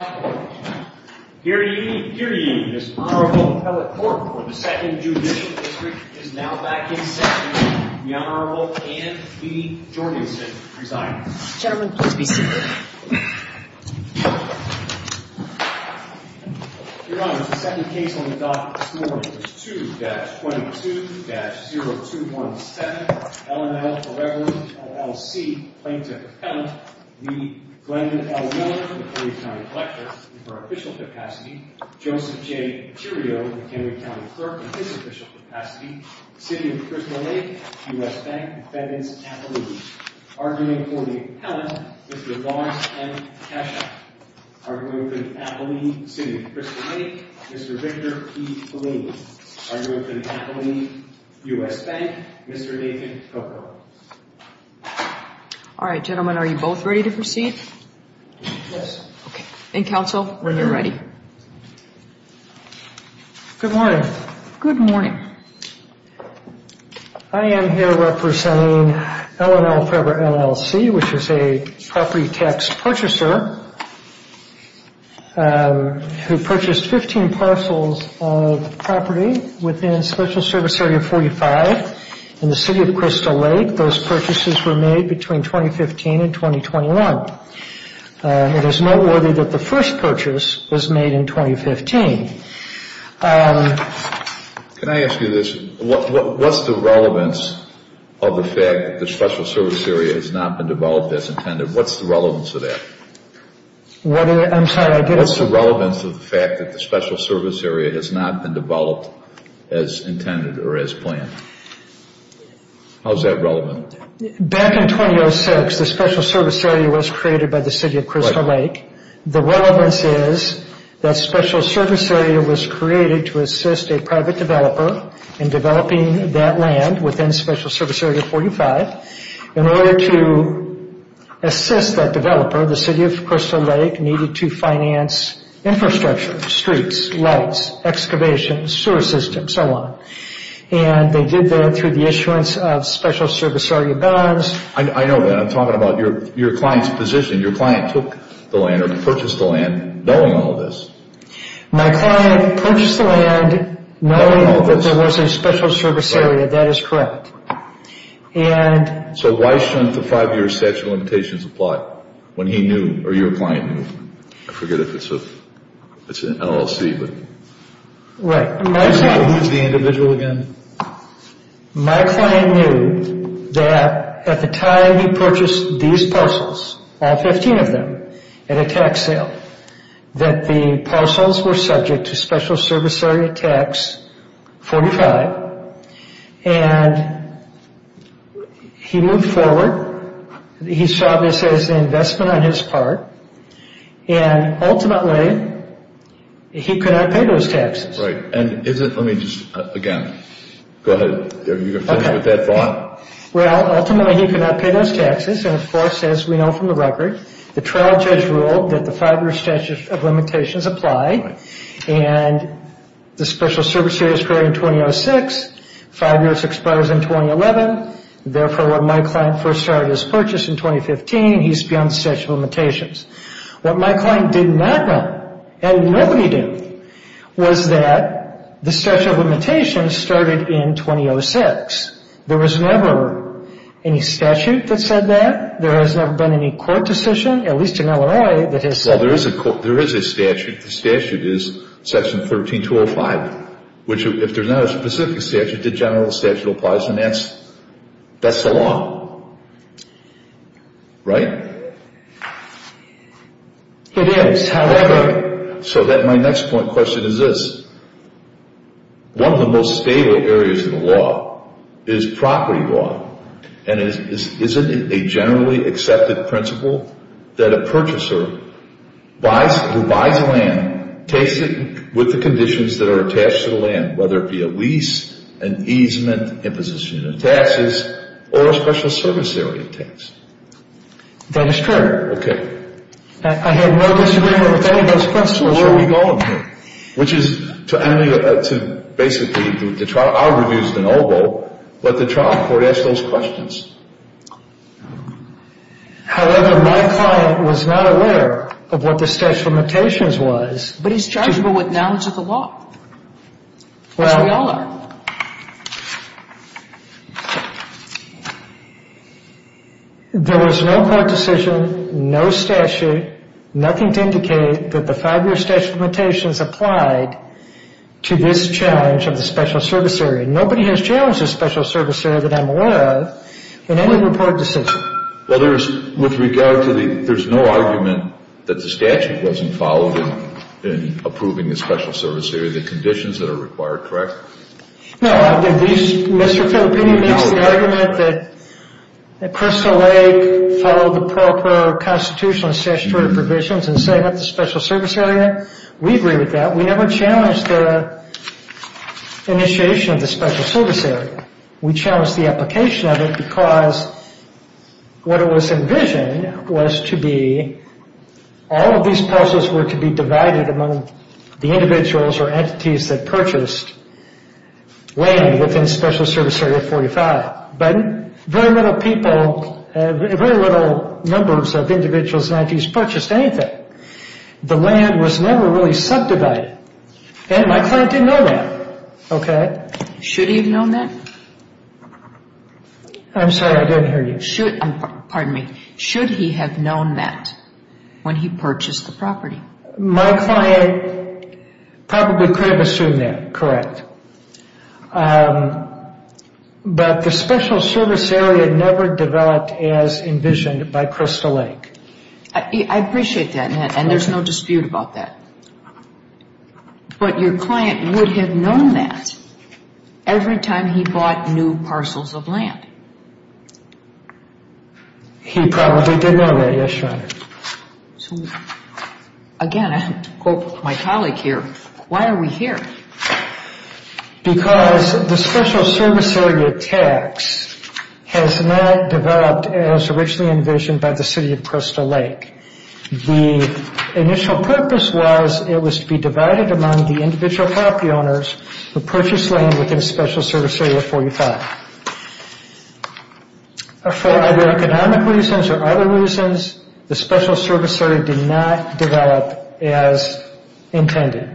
2-22-0217, LNL 4EVER, LLC, Plaintiff-Appellant v. Glendon L. Miller, 3-Time Collector, 2-22-0217, Joseph J. Curio, a Kennewick County Clerk in his official capacity, City of Crystal Lake, U.S. Bank, Defendants' Appellees. Arguing for the appellant, Mr. Lars M. Kesha. Arguing for the appellee, City of Crystal Lake, Mr. Victor P. Pellini. Arguing for the appellee, U.S. Bank, Mr. Nathan Coppola. All right, gentlemen, are you both ready to proceed? Yes. Okay, and counsel, are you ready? Good morning. Good morning. I am here representing LNL 4EVER, LLC, which is a property tax purchaser who purchased 15 parcels of property within Special Service Area 45 in the City of Crystal Lake. Those purchases were made between 2015 and 2021. It is noteworthy that the first purchase was made in 2015. Can I ask you this? What's the relevance of the fact that the Special Service Area has not been developed as intended? What's the relevance of that? I'm sorry. What's the relevance of the fact that the Special Service Area has not been developed as intended or as planned? How is that relevant? Back in 2006, the Special Service Area was created by the City of Crystal Lake. The relevance is that Special Service Area was created to assist a private developer in developing that land within Special Service Area 45. In order to assist that developer, the City of Crystal Lake needed to finance infrastructure, streets, lights, excavation, sewer system, and so on. They did that through the issuance of Special Service Area bonds. I know that. I'm talking about your client's position. Your client took the land or purchased the land knowing all of this. My client purchased the land knowing that there was a Special Service Area. That is correct. Why shouldn't the five-year statute of limitations apply when he knew or your client knew? I forget if it's an LLC. Right. Who's the individual again? My client knew that at the time he purchased these parcels, all 15 of them, at a tax sale, that the parcels were subject to Special Service Area tax 45. And he moved forward. He saw this as an investment on his part. Ultimately, he could not pay those taxes. Right. Let me just, again, go ahead. You can finish with that thought. Ultimately, he could not pay those taxes. Of course, as we know from the record, the trial judge ruled that the five-year statute of limitations apply. The Special Service Area was created in 2006. Five years expires in 2011. Therefore, when my client first started his purchase in 2015, he's beyond the statute of limitations. What my client did not know, and nobody did, was that the statute of limitations started in 2006. There was never any statute that said that. There has never been any court decision, at least in Illinois, that has said that. Well, there is a statute. The statute is Section 13205, which if there's not a specific statute, the general statute applies. And that's the law. Right? It is. However, so my next point question is this. One of the most stable areas of the law is property law. And isn't it a generally accepted principle that a purchaser who buys land takes it with the conditions that are attached to the land, whether it be a lease, an easement, imposition of taxes, or a Special Service Area tax? That is true. Okay. I have no disagreement with any of those principles. Well, where are we going here? Which is to basically the trial – I would have used an oval, but the trial court asked those questions. However, my client was not aware of what the statute of limitations was. But he's chargeable with knowledge of the law, as we all are. There was no court decision, no statute, nothing to indicate that the five-year statute of limitations applied to this challenge of the Special Service Area. Nobody has challenged the Special Service Area that I'm aware of in any report decision. With regard to the – there's no argument that the statute wasn't followed in approving the Special Service Area, the conditions that are required, correct? No. Mr. Filippini makes the argument that Crystal Lake followed the proper constitutional and statutory provisions and set up the Special Service Area. We agree with that. We never challenged the initiation of the Special Service Area. We challenged the application of it because what it was envisioned was to be – all of these parcels were to be divided among the individuals or entities that purchased land within Special Service Area 45. But very little people – very little numbers of individuals and entities purchased anything. The land was never really subdivided. And my client didn't know that, okay? Should he have known that? I'm sorry, I didn't hear you. Should – pardon me. Should he have known that when he purchased the property? My client probably could have assumed that, correct. But the Special Service Area never developed as envisioned by Crystal Lake. I appreciate that, Matt, and there's no dispute about that. But your client would have known that every time he bought new parcels of land. He probably did know that, yes, Your Honor. Again, I quote my colleague here, why are we here? Because the Special Service Area tax has not developed as originally envisioned by the City of Crystal Lake. The initial purpose was it was to be divided among the individual property owners who purchased land within Special Service Area 45. For either economic reasons or other reasons, the Special Service Area did not develop as intended.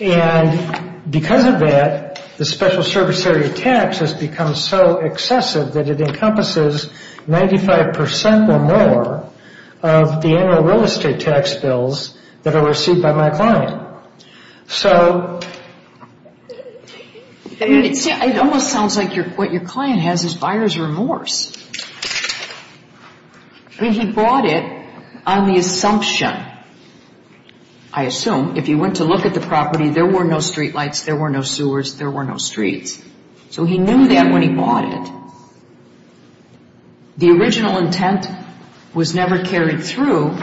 And because of that, the Special Service Area tax has become so excessive that it encompasses 95% or more of the annual real estate tax bills that are received by my client. It almost sounds like what your client has is buyer's remorse. I mean, he bought it on the assumption, I assume, if you went to look at the property, there were no streetlights, there were no sewers, there were no streets. So he knew that when he bought it. The original intent was never carried through.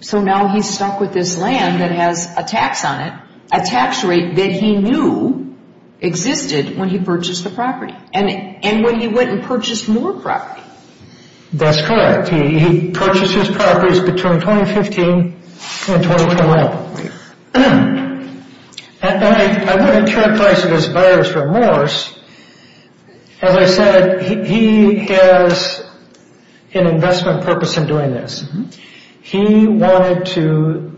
So now he's stuck with this land that has a tax on it, a tax rate that he knew existed when he purchased the property. And when he went and purchased more property. That's correct. He purchased his properties between 2015 and 2011. I want to characterize this buyer's remorse. As I said, he has an investment purpose in doing this. He wanted to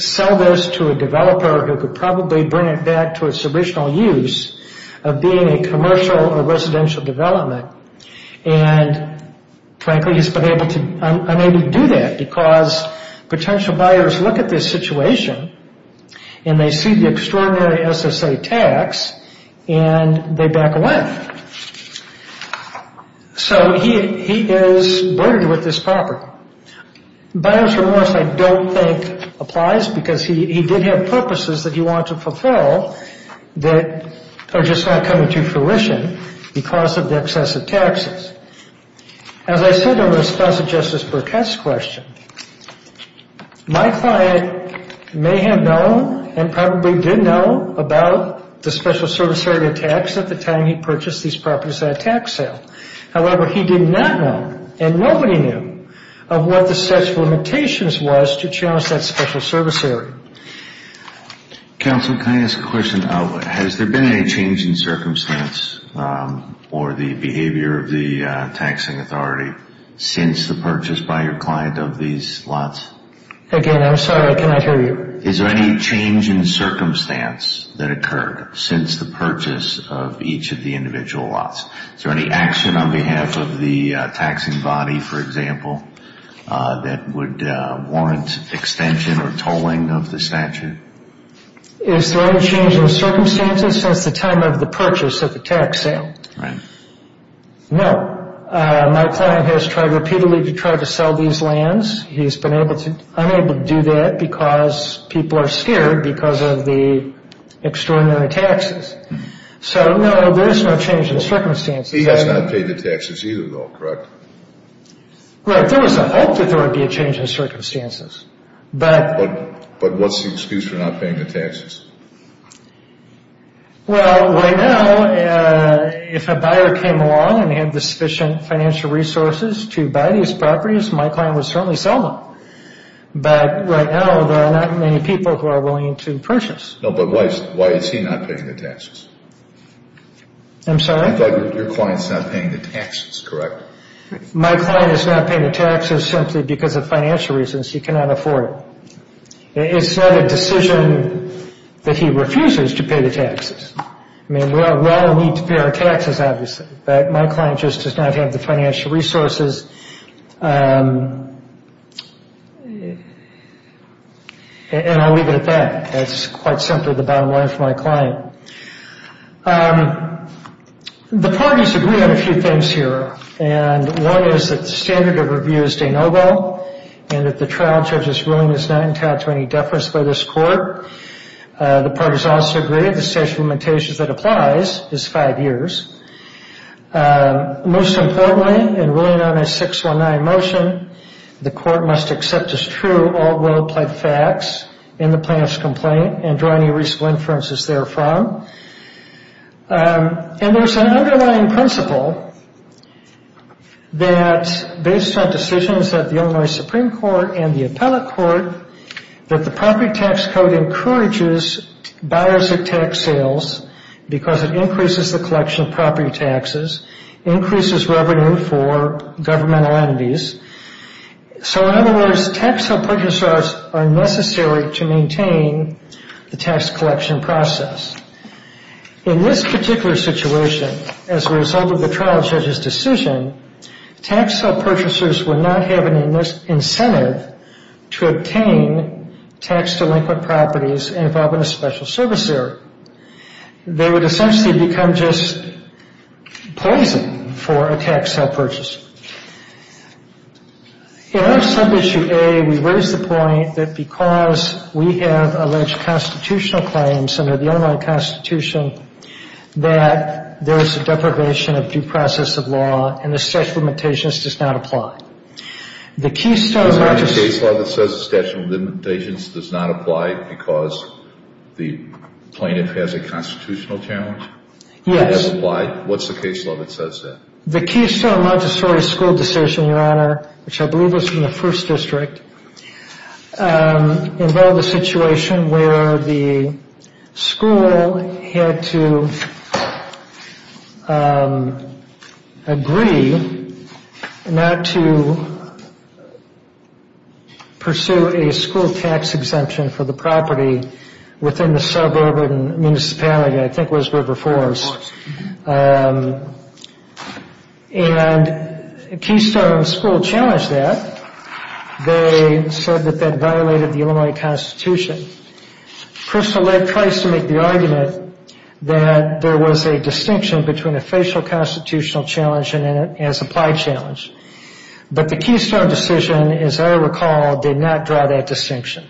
sell this to a developer who could probably bring it back to its original use of being a commercial or residential development. And frankly, he's been unable to do that because potential buyers look at this situation and they see the extraordinary SSA tax and they back away. So he is boarded with this property. Buyer's remorse I don't think applies because he did have purposes that he wanted to fulfill that are just not coming to fruition because of the excessive taxes. As I said in response to Justice Burkett's question, my client may have known and probably did know about the special service area tax at the time he purchased these properties at a tax sale. However, he did not know and nobody knew of what the set of limitations was to challenge that special service area. Counsel, can I ask a question? Has there been any change in circumstance or the behavior of the taxing authority since the purchase by your client of these lots? Again, I'm sorry. I cannot hear you. Is there any change in circumstance that occurred since the purchase of each of the individual lots? Is there any action on behalf of the taxing body, for example, that would warrant extension or tolling of the statute? Is there any change in circumstances since the time of the purchase at the tax sale? No. My client has tried repeatedly to try to sell these lands. He's been unable to do that because people are scared because of the extraordinary taxes. So, no, there's no change in circumstances. He has not paid the taxes either, though, correct? Right. There was a hope that there would be a change in circumstances. But what's the excuse for not paying the taxes? Well, right now, if a buyer came along and had the sufficient financial resources to buy these properties, my client would certainly sell them. But right now, there are not many people who are willing to purchase. No, but why is he not paying the taxes? I'm sorry? I thought your client's not paying the taxes, correct? My client is not paying the taxes simply because of financial reasons. He cannot afford it. It's not a decision that he refuses to pay the taxes. I mean, we all need to pay our taxes, obviously. But my client just does not have the financial resources. And I'll leave it at that. That's quite simply the bottom line for my client. The parties agree on a few things here. And one is that the standard of review is de novo, and that the trial judge's ruling is not entitled to any deference by this court. The parties also agree that the statute of limitations that applies is five years. Most importantly, in ruling on a 619 motion, the court must accept as true all rule-of-play facts in the plaintiff's complaint and draw any reasonable inferences therefrom. And there's an underlying principle that, based on decisions of the Illinois Supreme Court and the Appellate Court, that the property tax code encourages buyers of tax sales because it increases the collection of property taxes, increases revenue for governmental entities. So, in other words, tax-sale purchasers are necessary to maintain the tax collection process. In this particular situation, as a result of the trial judge's decision, tax-sale purchasers would not have an incentive to obtain tax-delinquent properties involved in a special service area. They would essentially become just poison for a tax-sale purchaser. In our sub-issue A, we raise the point that, because we have alleged constitutional claims under the Illinois Constitution, that there is a deprivation of due process of law, and the statute of limitations does not apply. The Keystone- The case law that says the statute of limitations does not apply because the plaintiff has a constitutional challenge? Yes. It doesn't apply? What's the case law that says that? The Keystone-Montessori school decision, Your Honor, which I believe was from the First District, involved a situation where the school had to agree not to pursue a school tax exemption for the property within the suburban municipality that I think was River Forest. And Keystone School challenged that. They said that that violated the Illinois Constitution. Crystal led Price to make the argument that there was a distinction between a facial constitutional challenge and a supply challenge. But the Keystone decision, as I recall, did not draw that distinction.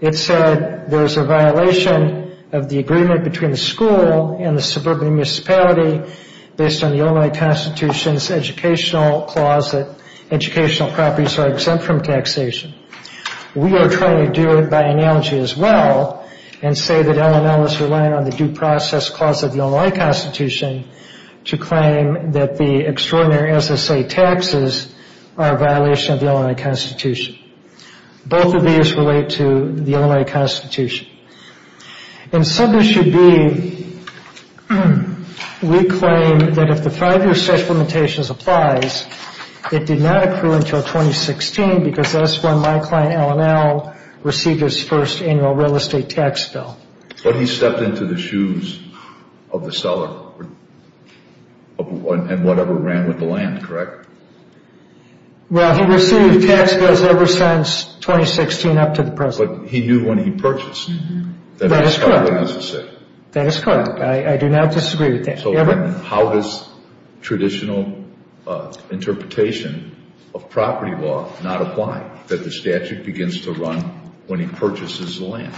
It said there's a violation of the agreement between the school and the suburban municipality based on the Illinois Constitution's educational clause that educational properties are exempt from taxation. We are trying to do it by analogy as well and say that LML is relying on the due process clause of the Illinois Constitution to claim that the extraordinary SSA taxes are a violation of the Illinois Constitution. Both of these relate to the Illinois Constitution. In submission B, we claim that if the five-year statute of limitations applies, it did not accrue until 2016 because that is when my client LML received his first annual real estate tax bill. But he stepped into the shoes of the seller and whatever ran with the land, correct? Well, he received tax bills ever since 2016 up to the present. But he knew when he purchased that he was covering his estate. That is correct. I do not disagree with that. How does traditional interpretation of property law not apply that the statute begins to run when he purchases the land?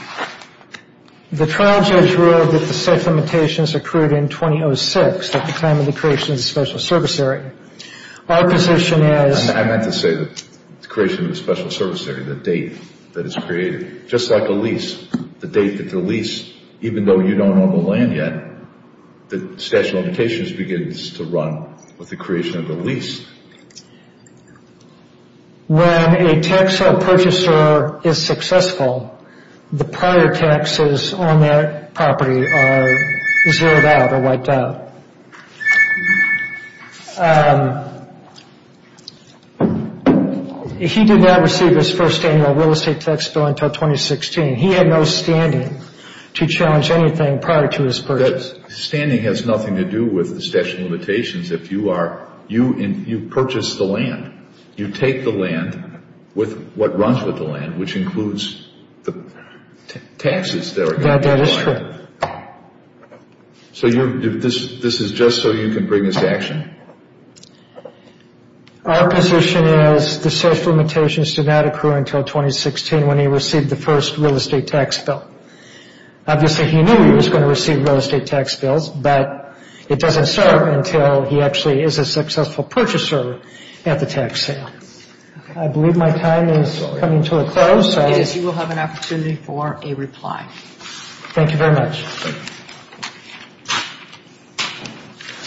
The trial judge ruled that the set limitations accrued in 2006 at the time of the creation of the special service area. Our position is... I meant to say the creation of the special service area, the date that it's created. Just like a lease, the date that the lease, even though you don't own the land yet, the statute of limitations begins to run with the creation of the lease. When a tax home purchaser is successful, the prior taxes on their property are zeroed out or wiped out. He did not receive his first annual real estate tax bill until 2016. He had no standing to challenge anything prior to his purchase. Standing has nothing to do with the statute of limitations. You purchase the land. You take the land with what runs with the land, which includes the taxes that are going to be applied. That is true. So this is just so you can bring this to action? Our position is the statute of limitations did not accrue until 2016 when he received the first real estate tax bill. Obviously, he knew he was going to receive real estate tax bills, but it doesn't start until he actually is a successful purchaser at the tax sale. I believe my time is coming to a close. You will have an opportunity for a reply. Thank you very much.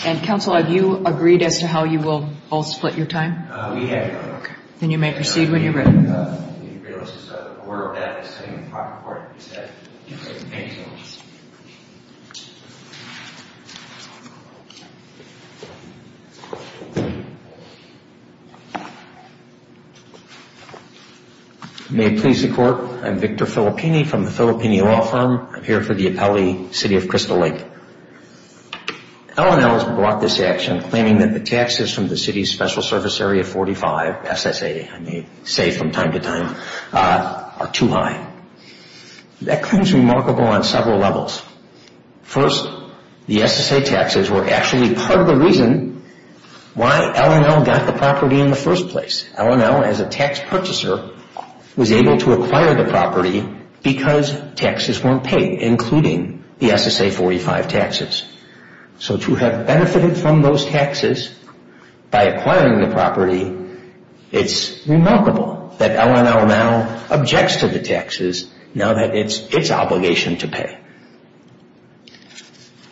And, counsel, have you agreed as to how you will both split your time? We have. Okay. Then you may proceed when you're ready. May it please the Court. I'm Victor Filippini from the Filippini Law Firm. I'm here for the appellee, City of Crystal Lake. L&L has brought this action, claiming that the taxes from the City's Special Service Area 45, SSA, I may say from time to time, are too high. That claim is remarkable on several levels. First, the SSA taxes were actually part of the reason why L&L got the property in the first place. L&L, as a tax purchaser, was able to acquire the property because taxes weren't paid, including the SSA 45 taxes. So to have benefited from those taxes by acquiring the property, it's remarkable that L&L now objects to the taxes now that it's its obligation to pay.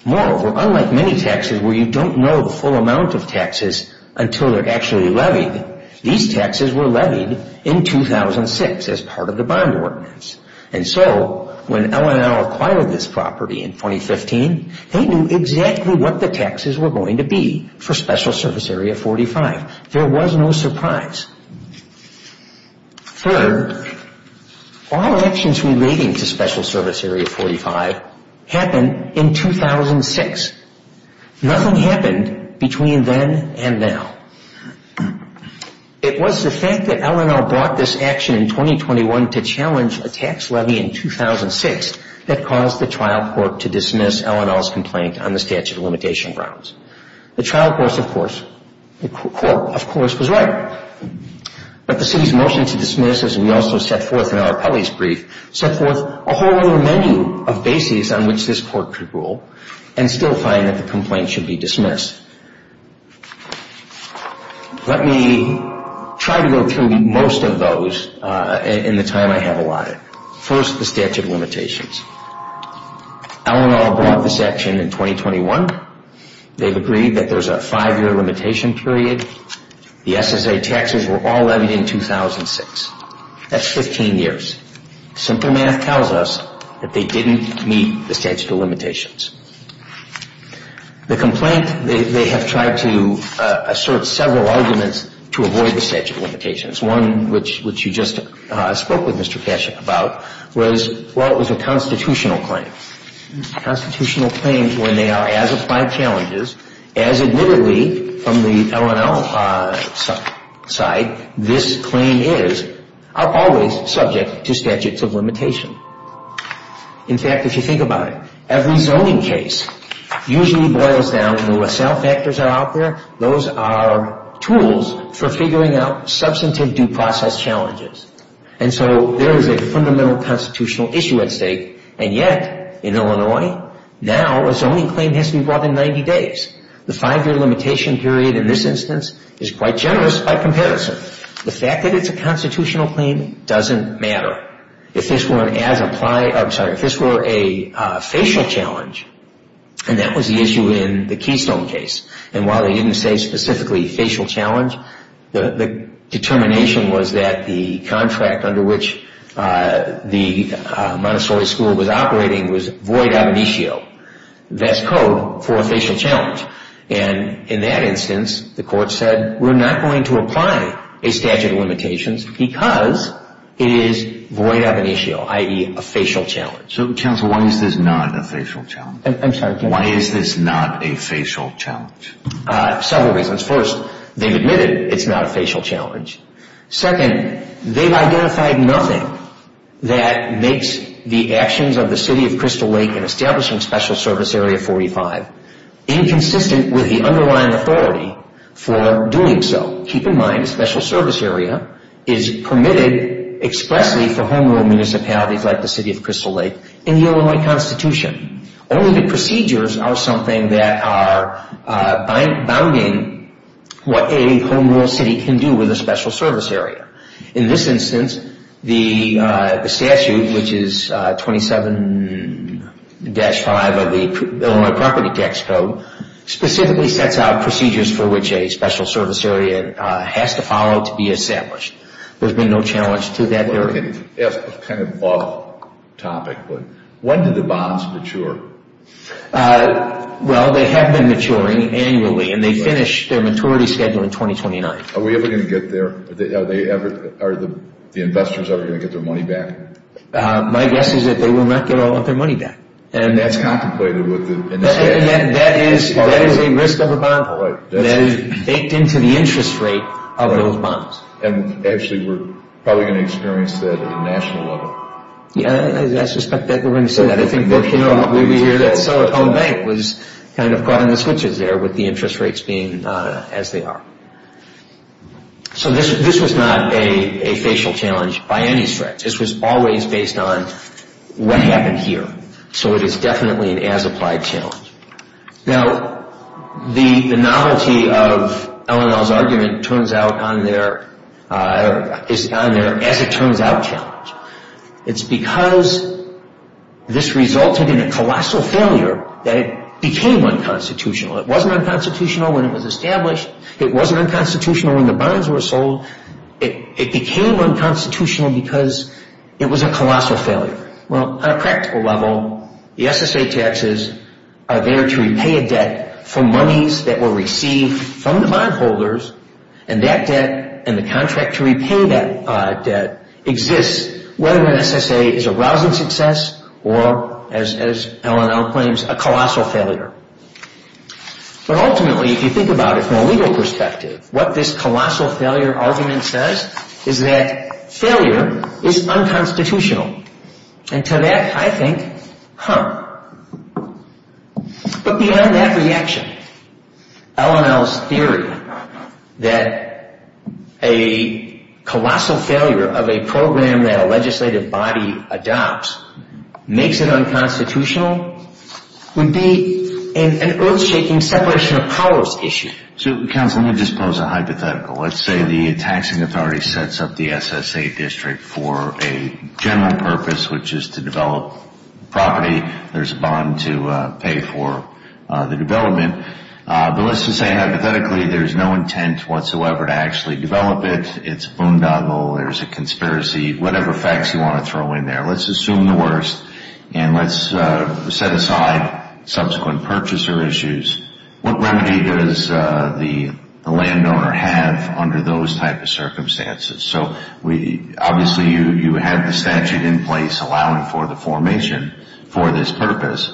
Moreover, unlike many taxes where you don't know the full amount of taxes until they're actually levied, these taxes were levied in 2006 as part of the bond ordinance. And so when L&L acquired this property in 2015, they knew exactly what the taxes were going to be for SSA 45. There was no surprise. Third, all actions relating to SSA 45 happened in 2006. Nothing happened between then and now. It was the fact that L&L brought this action in 2021 to challenge a tax levy in 2006 that caused the trial court to dismiss L&L's complaint on the statute of limitation grounds. The trial court, of course, was right. But the city's motion to dismiss, as we also set forth in our appellee's brief, set forth a whole other menu of bases on which this court could rule and still find that the complaint should be dismissed. Let me try to go through most of those in the time I have allotted. First, the statute of limitations. L&L brought this action in 2021. They've agreed that there's a five-year limitation period. The SSA taxes were all levied in 2006. That's 15 years. Simple math tells us that they didn't meet the statute of limitations. The complaint, they have tried to assert several arguments to avoid the statute of limitations. One, which you just spoke with Mr. Kashuk about, was, well, it was a constitutional claim. Constitutional claims, when they are as applied challenges, as admittedly from the L&L side, this claim is, are always subject to statutes of limitation. In fact, if you think about it, every zoning case usually boils down to, where cell factors are out there, those are tools for figuring out substantive due process challenges. And so there is a fundamental constitutional issue at stake. And yet, in Illinois, now a zoning claim has to be brought in 90 days. The five-year limitation period in this instance is quite generous by comparison. The fact that it's a constitutional claim doesn't matter. If this were a facial challenge, and that was the issue in the Keystone case, and while they didn't say specifically facial challenge, the determination was that the contract under which the Montessori school was operating was void ab initio. That's code for a facial challenge. And in that instance, the court said, we're not going to apply a statute of limitations because it is void ab initio, i.e., a facial challenge. So, counsel, why is this not a facial challenge? I'm sorry, counsel. Why is this not a facial challenge? Several reasons. First, they've admitted it's not a facial challenge. Second, they've identified nothing that makes the actions of the City of Crystal Lake in establishing special service area 45 inconsistent with the underlying authority for doing so. Keep in mind, a special service area is permitted expressly for home rule municipalities like the City of Crystal Lake in the Illinois Constitution. Only the procedures are something that are bounding what a home rule city can do with a special service area. In this instance, the statute, which is 27-5 of the Illinois Property Tax Code, specifically sets out procedures for which a special service area has to follow to be established. There's been no challenge to that area. It's kind of an off topic, but when do the bonds mature? Well, they have been maturing annually, and they finished their maturity schedule in 2029. Are we ever going to get there? Are the investors ever going to get their money back? My guess is that they will not get all of their money back. And that's contemplated with the... That is a risk of a bond. That is baked into the interest rate of those bonds. And actually, we're probably going to experience that at a national level. Yeah, I suspect that they're going to say that. I think we hear that so at Home Bank was kind of caught in the switches there with the interest rates being as they are. So this was not a facial challenge by any stretch. This was always based on what happened here. So it is definitely an as-applied challenge. Now, the novelty of L&L's argument turns out on their... is on their as-it-turns-out challenge. It's because this resulted in a colossal failure that it became unconstitutional. It wasn't unconstitutional when it was established. It wasn't unconstitutional when the bonds were sold. It became unconstitutional because it was a colossal failure. Well, on a practical level, the SSA taxes are there to repay a debt for monies that were received from the bondholders. And that debt and the contract to repay that debt exists whether an SSA is a rousing success or, as L&L claims, a colossal failure. But ultimately, if you think about it from a legal perspective, what this colossal failure argument says is that failure is unconstitutional. And to that, I think, huh. But beyond that reaction, L&L's theory that a colossal failure of a program that a legislative body adopts makes it unconstitutional would be an earth-shaking separation of powers issue. So, counsel, let me just pose a hypothetical. Let's say the taxing authority sets up the SSA district for a general purpose, which is to develop property. There's a bond to pay for the development. But let's just say, hypothetically, there's no intent whatsoever to actually develop it. It's a boondoggle. There's a conspiracy. Whatever facts you want to throw in there. Let's assume the worst, and let's set aside subsequent purchaser issues. What remedy does the landowner have under those type of circumstances? So, obviously, you have the statute in place allowing for the formation for this purpose.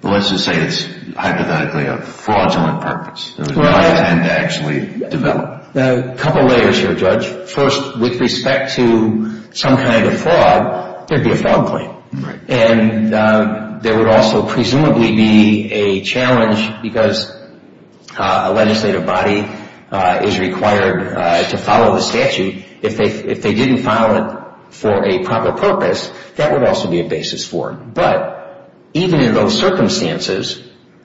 But let's just say it's, hypothetically, a fraudulent purpose. There's no intent to actually develop. A couple layers here, Judge. First, with respect to some kind of fraud, there'd be a fraud claim. And there would also presumably be a challenge because a legislative body is required to follow the statute. If they didn't follow it for a proper purpose, that would also be a basis for it. But even in those circumstances,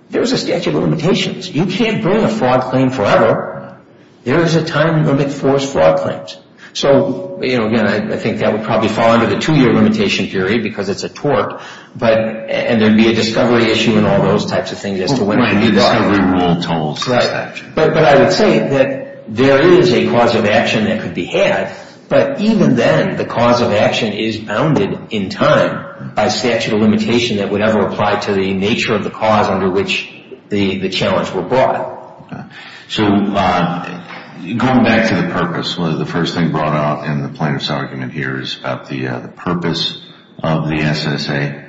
there's a statute of limitations. You can't bring a fraud claim forever. There is a time limit for fraud claims. So, again, I think that would probably fall under the two-year limitation period because it's a tort. And there'd be a discovery issue and all those types of things as to when it would be done. A discovery rule totals the statute. Right. But I would say that there is a cause of action that could be had. But even then, the cause of action is bounded in time by statute of limitation that would ever apply to the nature of the cause under which the challenge were brought. So, going back to the purpose, the first thing brought up in the plaintiff's argument here is about the purpose of the SSA.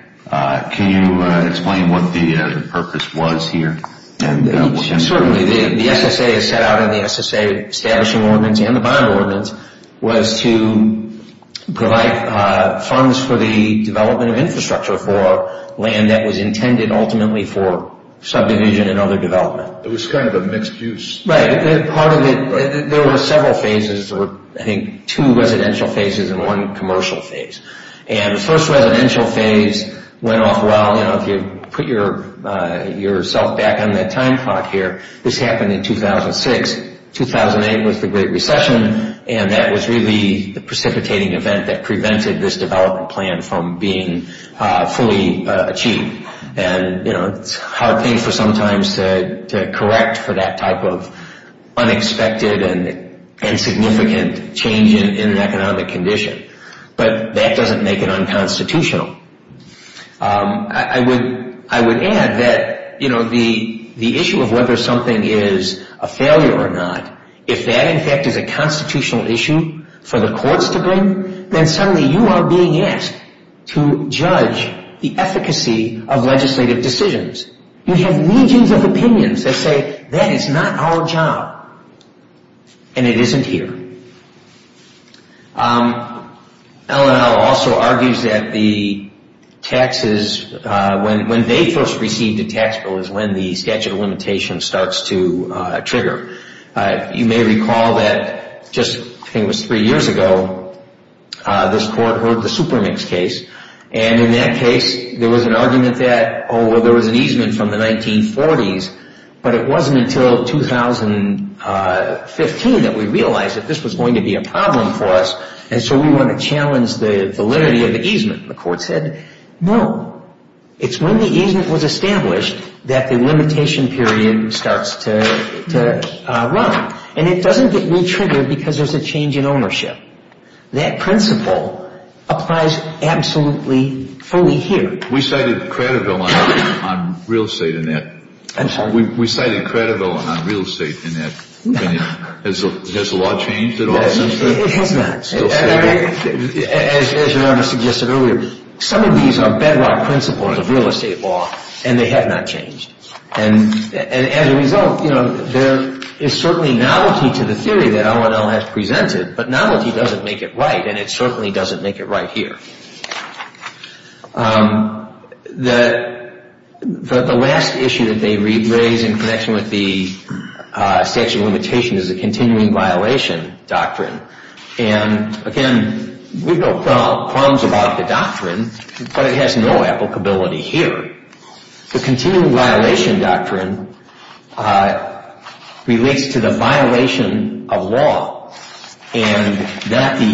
Can you explain what the purpose was here? Certainly. The SSA is set out in the SSA establishing ordinance and the bond ordinance It was kind of a mixed use. Right. Part of it, there were several phases. There were, I think, two residential phases and one commercial phase. And the first residential phase went off well. You know, if you put yourself back on that time clock here, this happened in 2006. 2008 was the Great Recession, and that was really the precipitating event that prevented this development plan from being fully achieved. And, you know, it's a hard thing for sometimes to correct for that type of unexpected and significant change in an economic condition. But that doesn't make it unconstitutional. I would add that, you know, the issue of whether something is a failure or not, if that, in fact, is a constitutional issue for the courts to bring, then suddenly you are being asked to judge the efficacy of legislative decisions. You have millions of opinions that say that is not our job, and it isn't here. LNL also argues that the taxes, when they first received a tax bill, is when the statute of limitations starts to trigger. You may recall that just, I think it was three years ago, this court heard the Supermix case. And in that case, there was an argument that, oh, well, there was an easement from the 1940s, but it wasn't until 2015 that we realized that this was going to be a problem for us, and so we want to challenge the validity of the easement. And the court said, no, it's when the easement was established that the limitation period starts to run. And it doesn't get retriggered because there's a change in ownership. That principle applies absolutely fully here. We cited Craddoville on real estate in that. I'm sorry? We cited Craddoville on real estate in that. Has the law changed at all since then? It has not. As Your Honor suggested earlier, some of these are bedrock principles of real estate law, and they have not changed. And as a result, you know, there is certainly novelty to the theory that LNL has presented, but novelty doesn't make it right, and it certainly doesn't make it right here. The last issue that they raise in connection with the statute of limitations is the continuing violation doctrine. And, again, we have no qualms about the doctrine, but it has no applicability here. The continuing violation doctrine relates to the violation of law and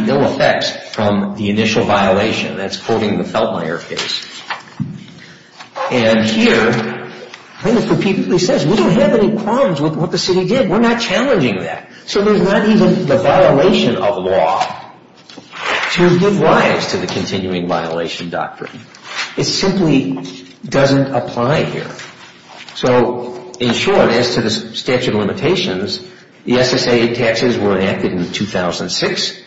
no effects from the initial violation. That's quoting the Feltmire case. And here, he says, we don't have any problems with what the city did. We're not challenging that. So there's not even the violation of law to give rise to the continuing violation doctrine. It simply doesn't apply here. So, in short, as to the statute of limitations, the SSA taxes were enacted in 2006.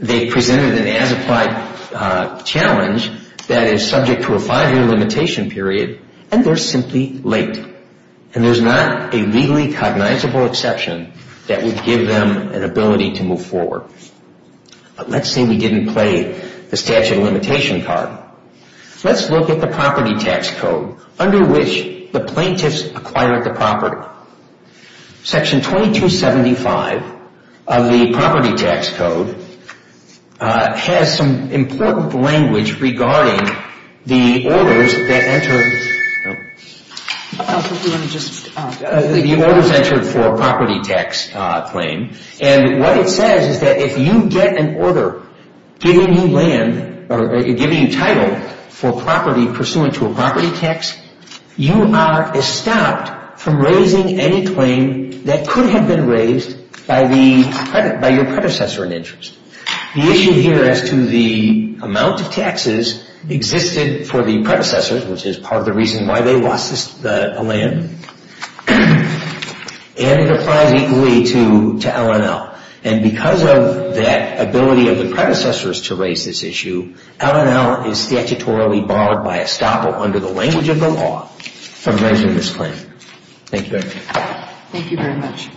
They presented an as-applied challenge that is subject to a five-year limitation period, and they're simply late. And there's not a legally cognizable exception that would give them an ability to move forward. But let's say we didn't play the statute of limitation card. Let's look at the property tax code under which the plaintiffs acquired the property. Section 2275 of the property tax code has some important language regarding the orders that enter the property tax claim. And what it says is that if you get an order giving you land or giving you title for property pursuant to a property tax, you are estopped from raising any claim that could have been raised by your predecessor in interest. The issue here as to the amount of taxes existed for the predecessors, which is part of the reason why they lost the land, and it applies equally to L&L. And because of that ability of the predecessors to raise this issue, L&L is statutorily barred by estoppel under the language of the law from raising this claim. Thank you very much. Thank you very much.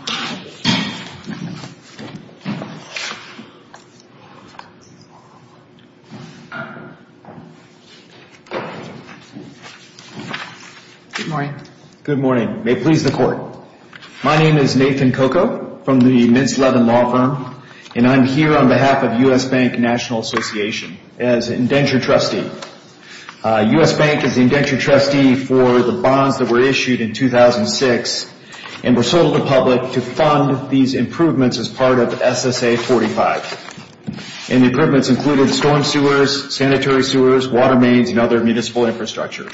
Good morning. Good morning. May it please the Court. My name is Nathan Coco from the Mintz Levin Law Firm, and I'm here on behalf of U.S. Bank National Association as an indenture trustee. U.S. Bank is the indenture trustee for the bonds that were issued in 2006 and were sold to the public to fund these improvements as part of SSA 45. And the improvements included storm sewers, sanitary sewers, water mains, and other municipal infrastructure.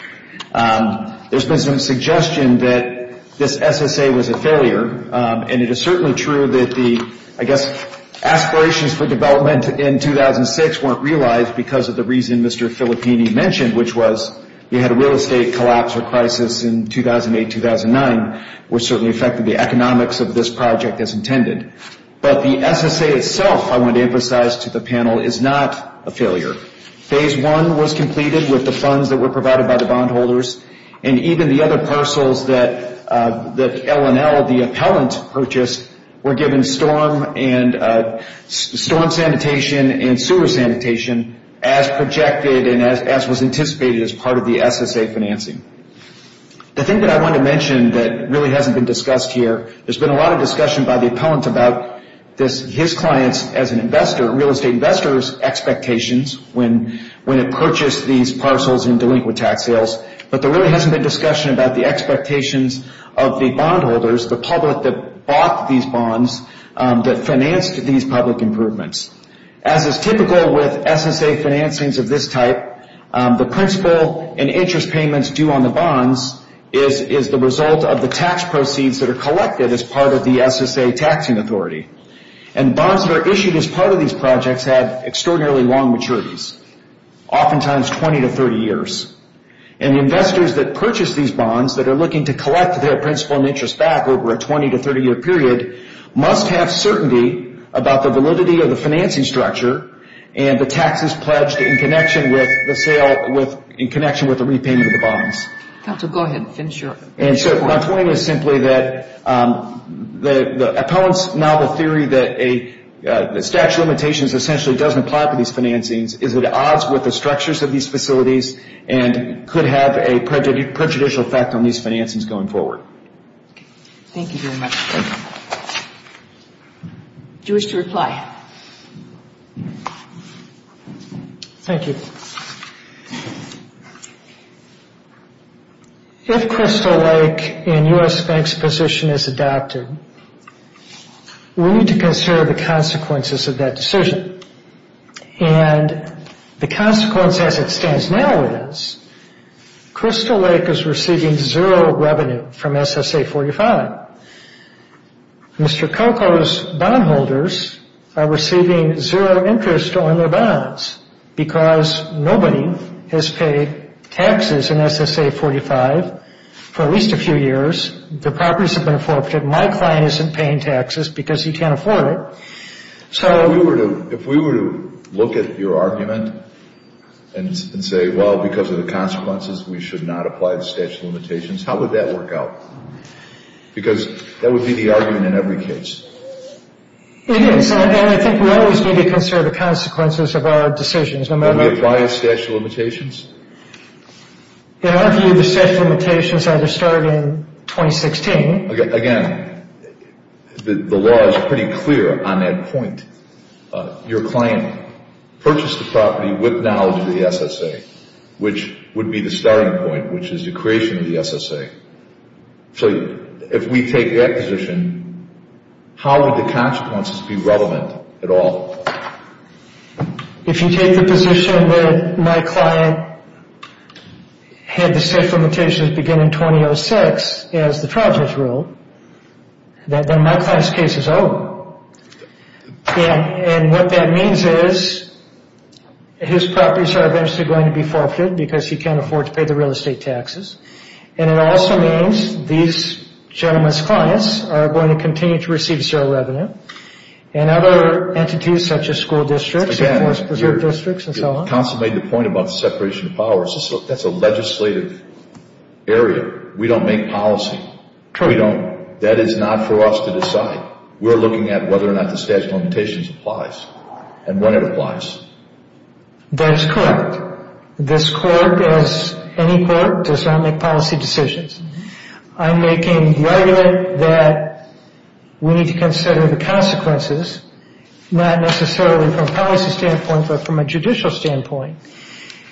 There's been some suggestion that this SSA was a failure, and it is certainly true that the, I guess, aspirations for development in 2006 weren't realized because of the reason Mr. Filippini mentioned, which was we had a real estate collapse or crisis in 2008-2009, which certainly affected the economics of this project as intended. But the SSA itself, I want to emphasize to the panel, is not a failure. Phase one was completed with the funds that were provided by the bondholders, and even the other parcels that L&L, the appellant, purchased, were given storm sanitation and sewer sanitation as projected and as was anticipated as part of the SSA financing. The thing that I want to mention that really hasn't been discussed here, there's been a lot of discussion by the appellant about his client's, as an investor, real estate investor's expectations when it purchased these parcels in delinquent tax sales, but there really hasn't been discussion about the expectations of the bondholders, the public that bought these bonds, that financed these public improvements. As is typical with SSA financings of this type, the principal and interest payments due on the bonds is the result of the tax proceeds that are collected as part of the SSA taxing authority. And bonds that are issued as part of these projects have extraordinarily long maturities, oftentimes 20 to 30 years. And the investors that purchase these bonds, that are looking to collect their principal and interest back over a 20 to 30 year period, must have certainty about the validity of the financing structure and the taxes pledged in connection with the repayment of the bonds. And so my point is simply that the appellant's novel theory that the statute of limitations essentially doesn't apply for these financings is at odds with the structures of these facilities and could have a prejudicial effect on these financings going forward. Thank you very much. Do you wish to reply? Thank you. If Crystal Lake and U.S. Bank's position is adopted, we need to consider the consequences of that decision. And the consequence as it stands now is Crystal Lake is receiving zero revenue from SSA 45. Mr. Coco's bondholders are receiving zero interest on their bonds because nobody has paid taxes in SSA 45 for at least a few years. The properties have been forfeited. My client isn't paying taxes because he can't afford it. If we were to look at your argument and say, well, because of the consequences we should not apply the statute of limitations, how would that work out? Because that would be the argument in every case. It is, and I think we always need to consider the consequences of our decisions. Do we apply the statute of limitations? In our view, the statute of limitations either started in 2016. Again, the law is pretty clear on that point. Your client purchased the property with knowledge of the SSA, which would be the starting point, which is the creation of the SSA. So if we take that position, how would the consequences be relevant at all? If you take the position that my client had the statute of limitations begin in 2006, as the trial judge ruled, then my client's case is over. And what that means is his properties are eventually going to be forfeited because he can't afford to pay the real estate taxes. And it also means these gentlemen's clients are going to continue to receive zero revenue, and other entities such as school districts and forest preserve districts and so on. Counsel made the point about the separation of powers. That's a legislative area. We don't make policy. We don't. That is not for us to decide. We're looking at whether or not the statute of limitations applies and when it applies. That is correct. This court, as any court, does not make policy decisions. I'm making the argument that we need to consider the consequences, not necessarily from a policy standpoint, but from a judicial standpoint.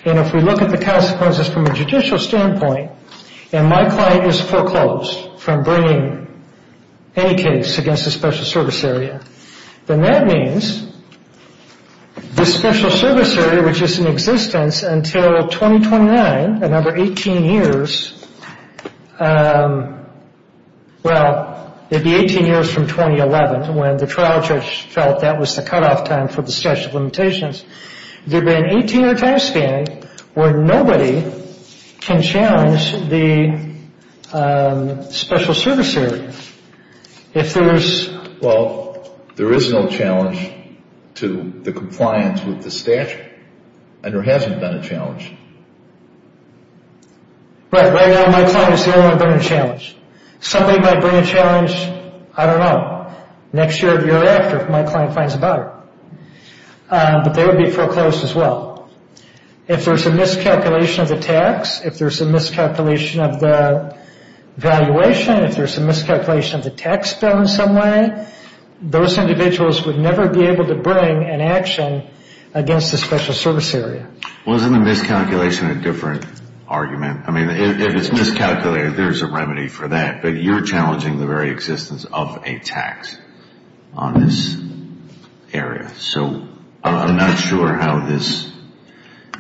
And if we look at the consequences from a judicial standpoint, and my client is foreclosed from bringing any case against a special service area, then that means the special service area, which is in existence until 2029, another 18 years, well, it would be 18 years from 2011, when the trial judge felt that was the cutoff time for the statute of limitations. There'd be an 18-year time span where nobody can challenge the special service area. If there's... Well, there is no challenge to the compliance with the statute, and there hasn't been a challenge. Right. Right now, my client has never been a challenge. Somebody might bring a challenge, I don't know, next year or the year after, if my client finds about it. But they would be foreclosed as well. If there's a miscalculation of the tax, if there's a miscalculation of the valuation, if there's a miscalculation of the tax bill in some way, those individuals would never be able to bring an action against the special service area. Well, isn't the miscalculation a different argument? I mean, if it's miscalculated, there's a remedy for that. But you're challenging the very existence of a tax on this area. So I'm not sure how this...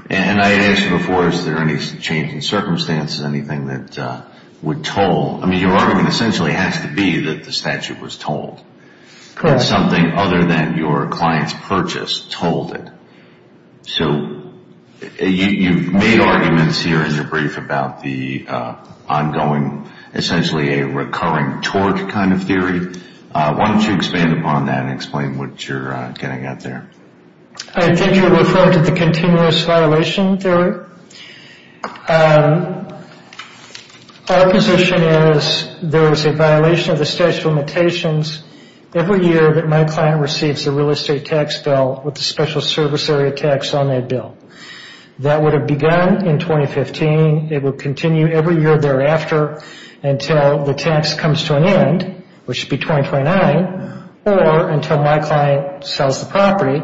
And I asked before, is there any change in circumstances, anything that would toll? I mean, your argument essentially has to be that the statute was tolled. Something other than your client's purchase tolled it. So you've made arguments here in your brief about the ongoing, essentially a recurring torque kind of theory. Why don't you expand upon that and explain what you're getting at there. I think you're referring to the continuous violation theory. Our position is there's a violation of the statute of limitations. Every year that my client receives a real estate tax bill with a special service area tax on that bill. That would have begun in 2015. It would continue every year thereafter until the tax comes to an end, which would be 2029, or until my client sells the property.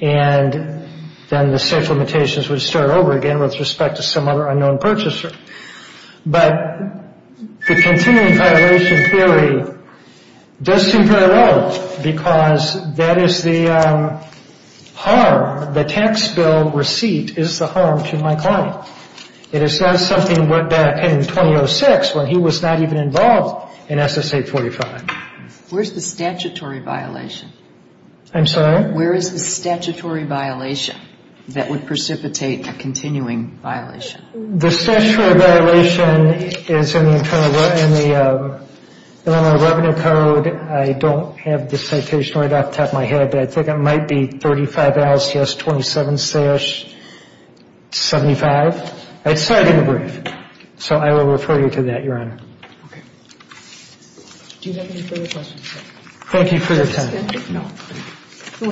And then the statute of limitations would start over again with respect to some other unknown purchaser. But the continuing violation theory does seem parallel, because that is the harm. The tax bill receipt is the harm to my client. It is not something that happened in 2006 when he was not even involved in SSA 45. Where's the statutory violation? I'm sorry? Where is the statutory violation that would precipitate a continuing violation? The statutory violation is in the Internal Revenue Code. I don't have the citation right off the top of my head, but I think it might be 35-27-75. I decided to be brief. So I will refer you to that, Your Honor. Okay. Do you have any further questions? Thank you for your time.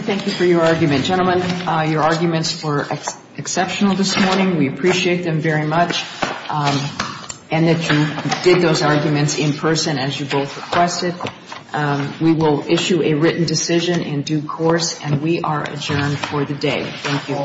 Thank you for your argument. Gentlemen, your arguments were exceptional this morning. We appreciate them very much. And that you did those arguments in person, as you both requested. We will issue a written decision in due course, and we are adjourned for the day. Thank you.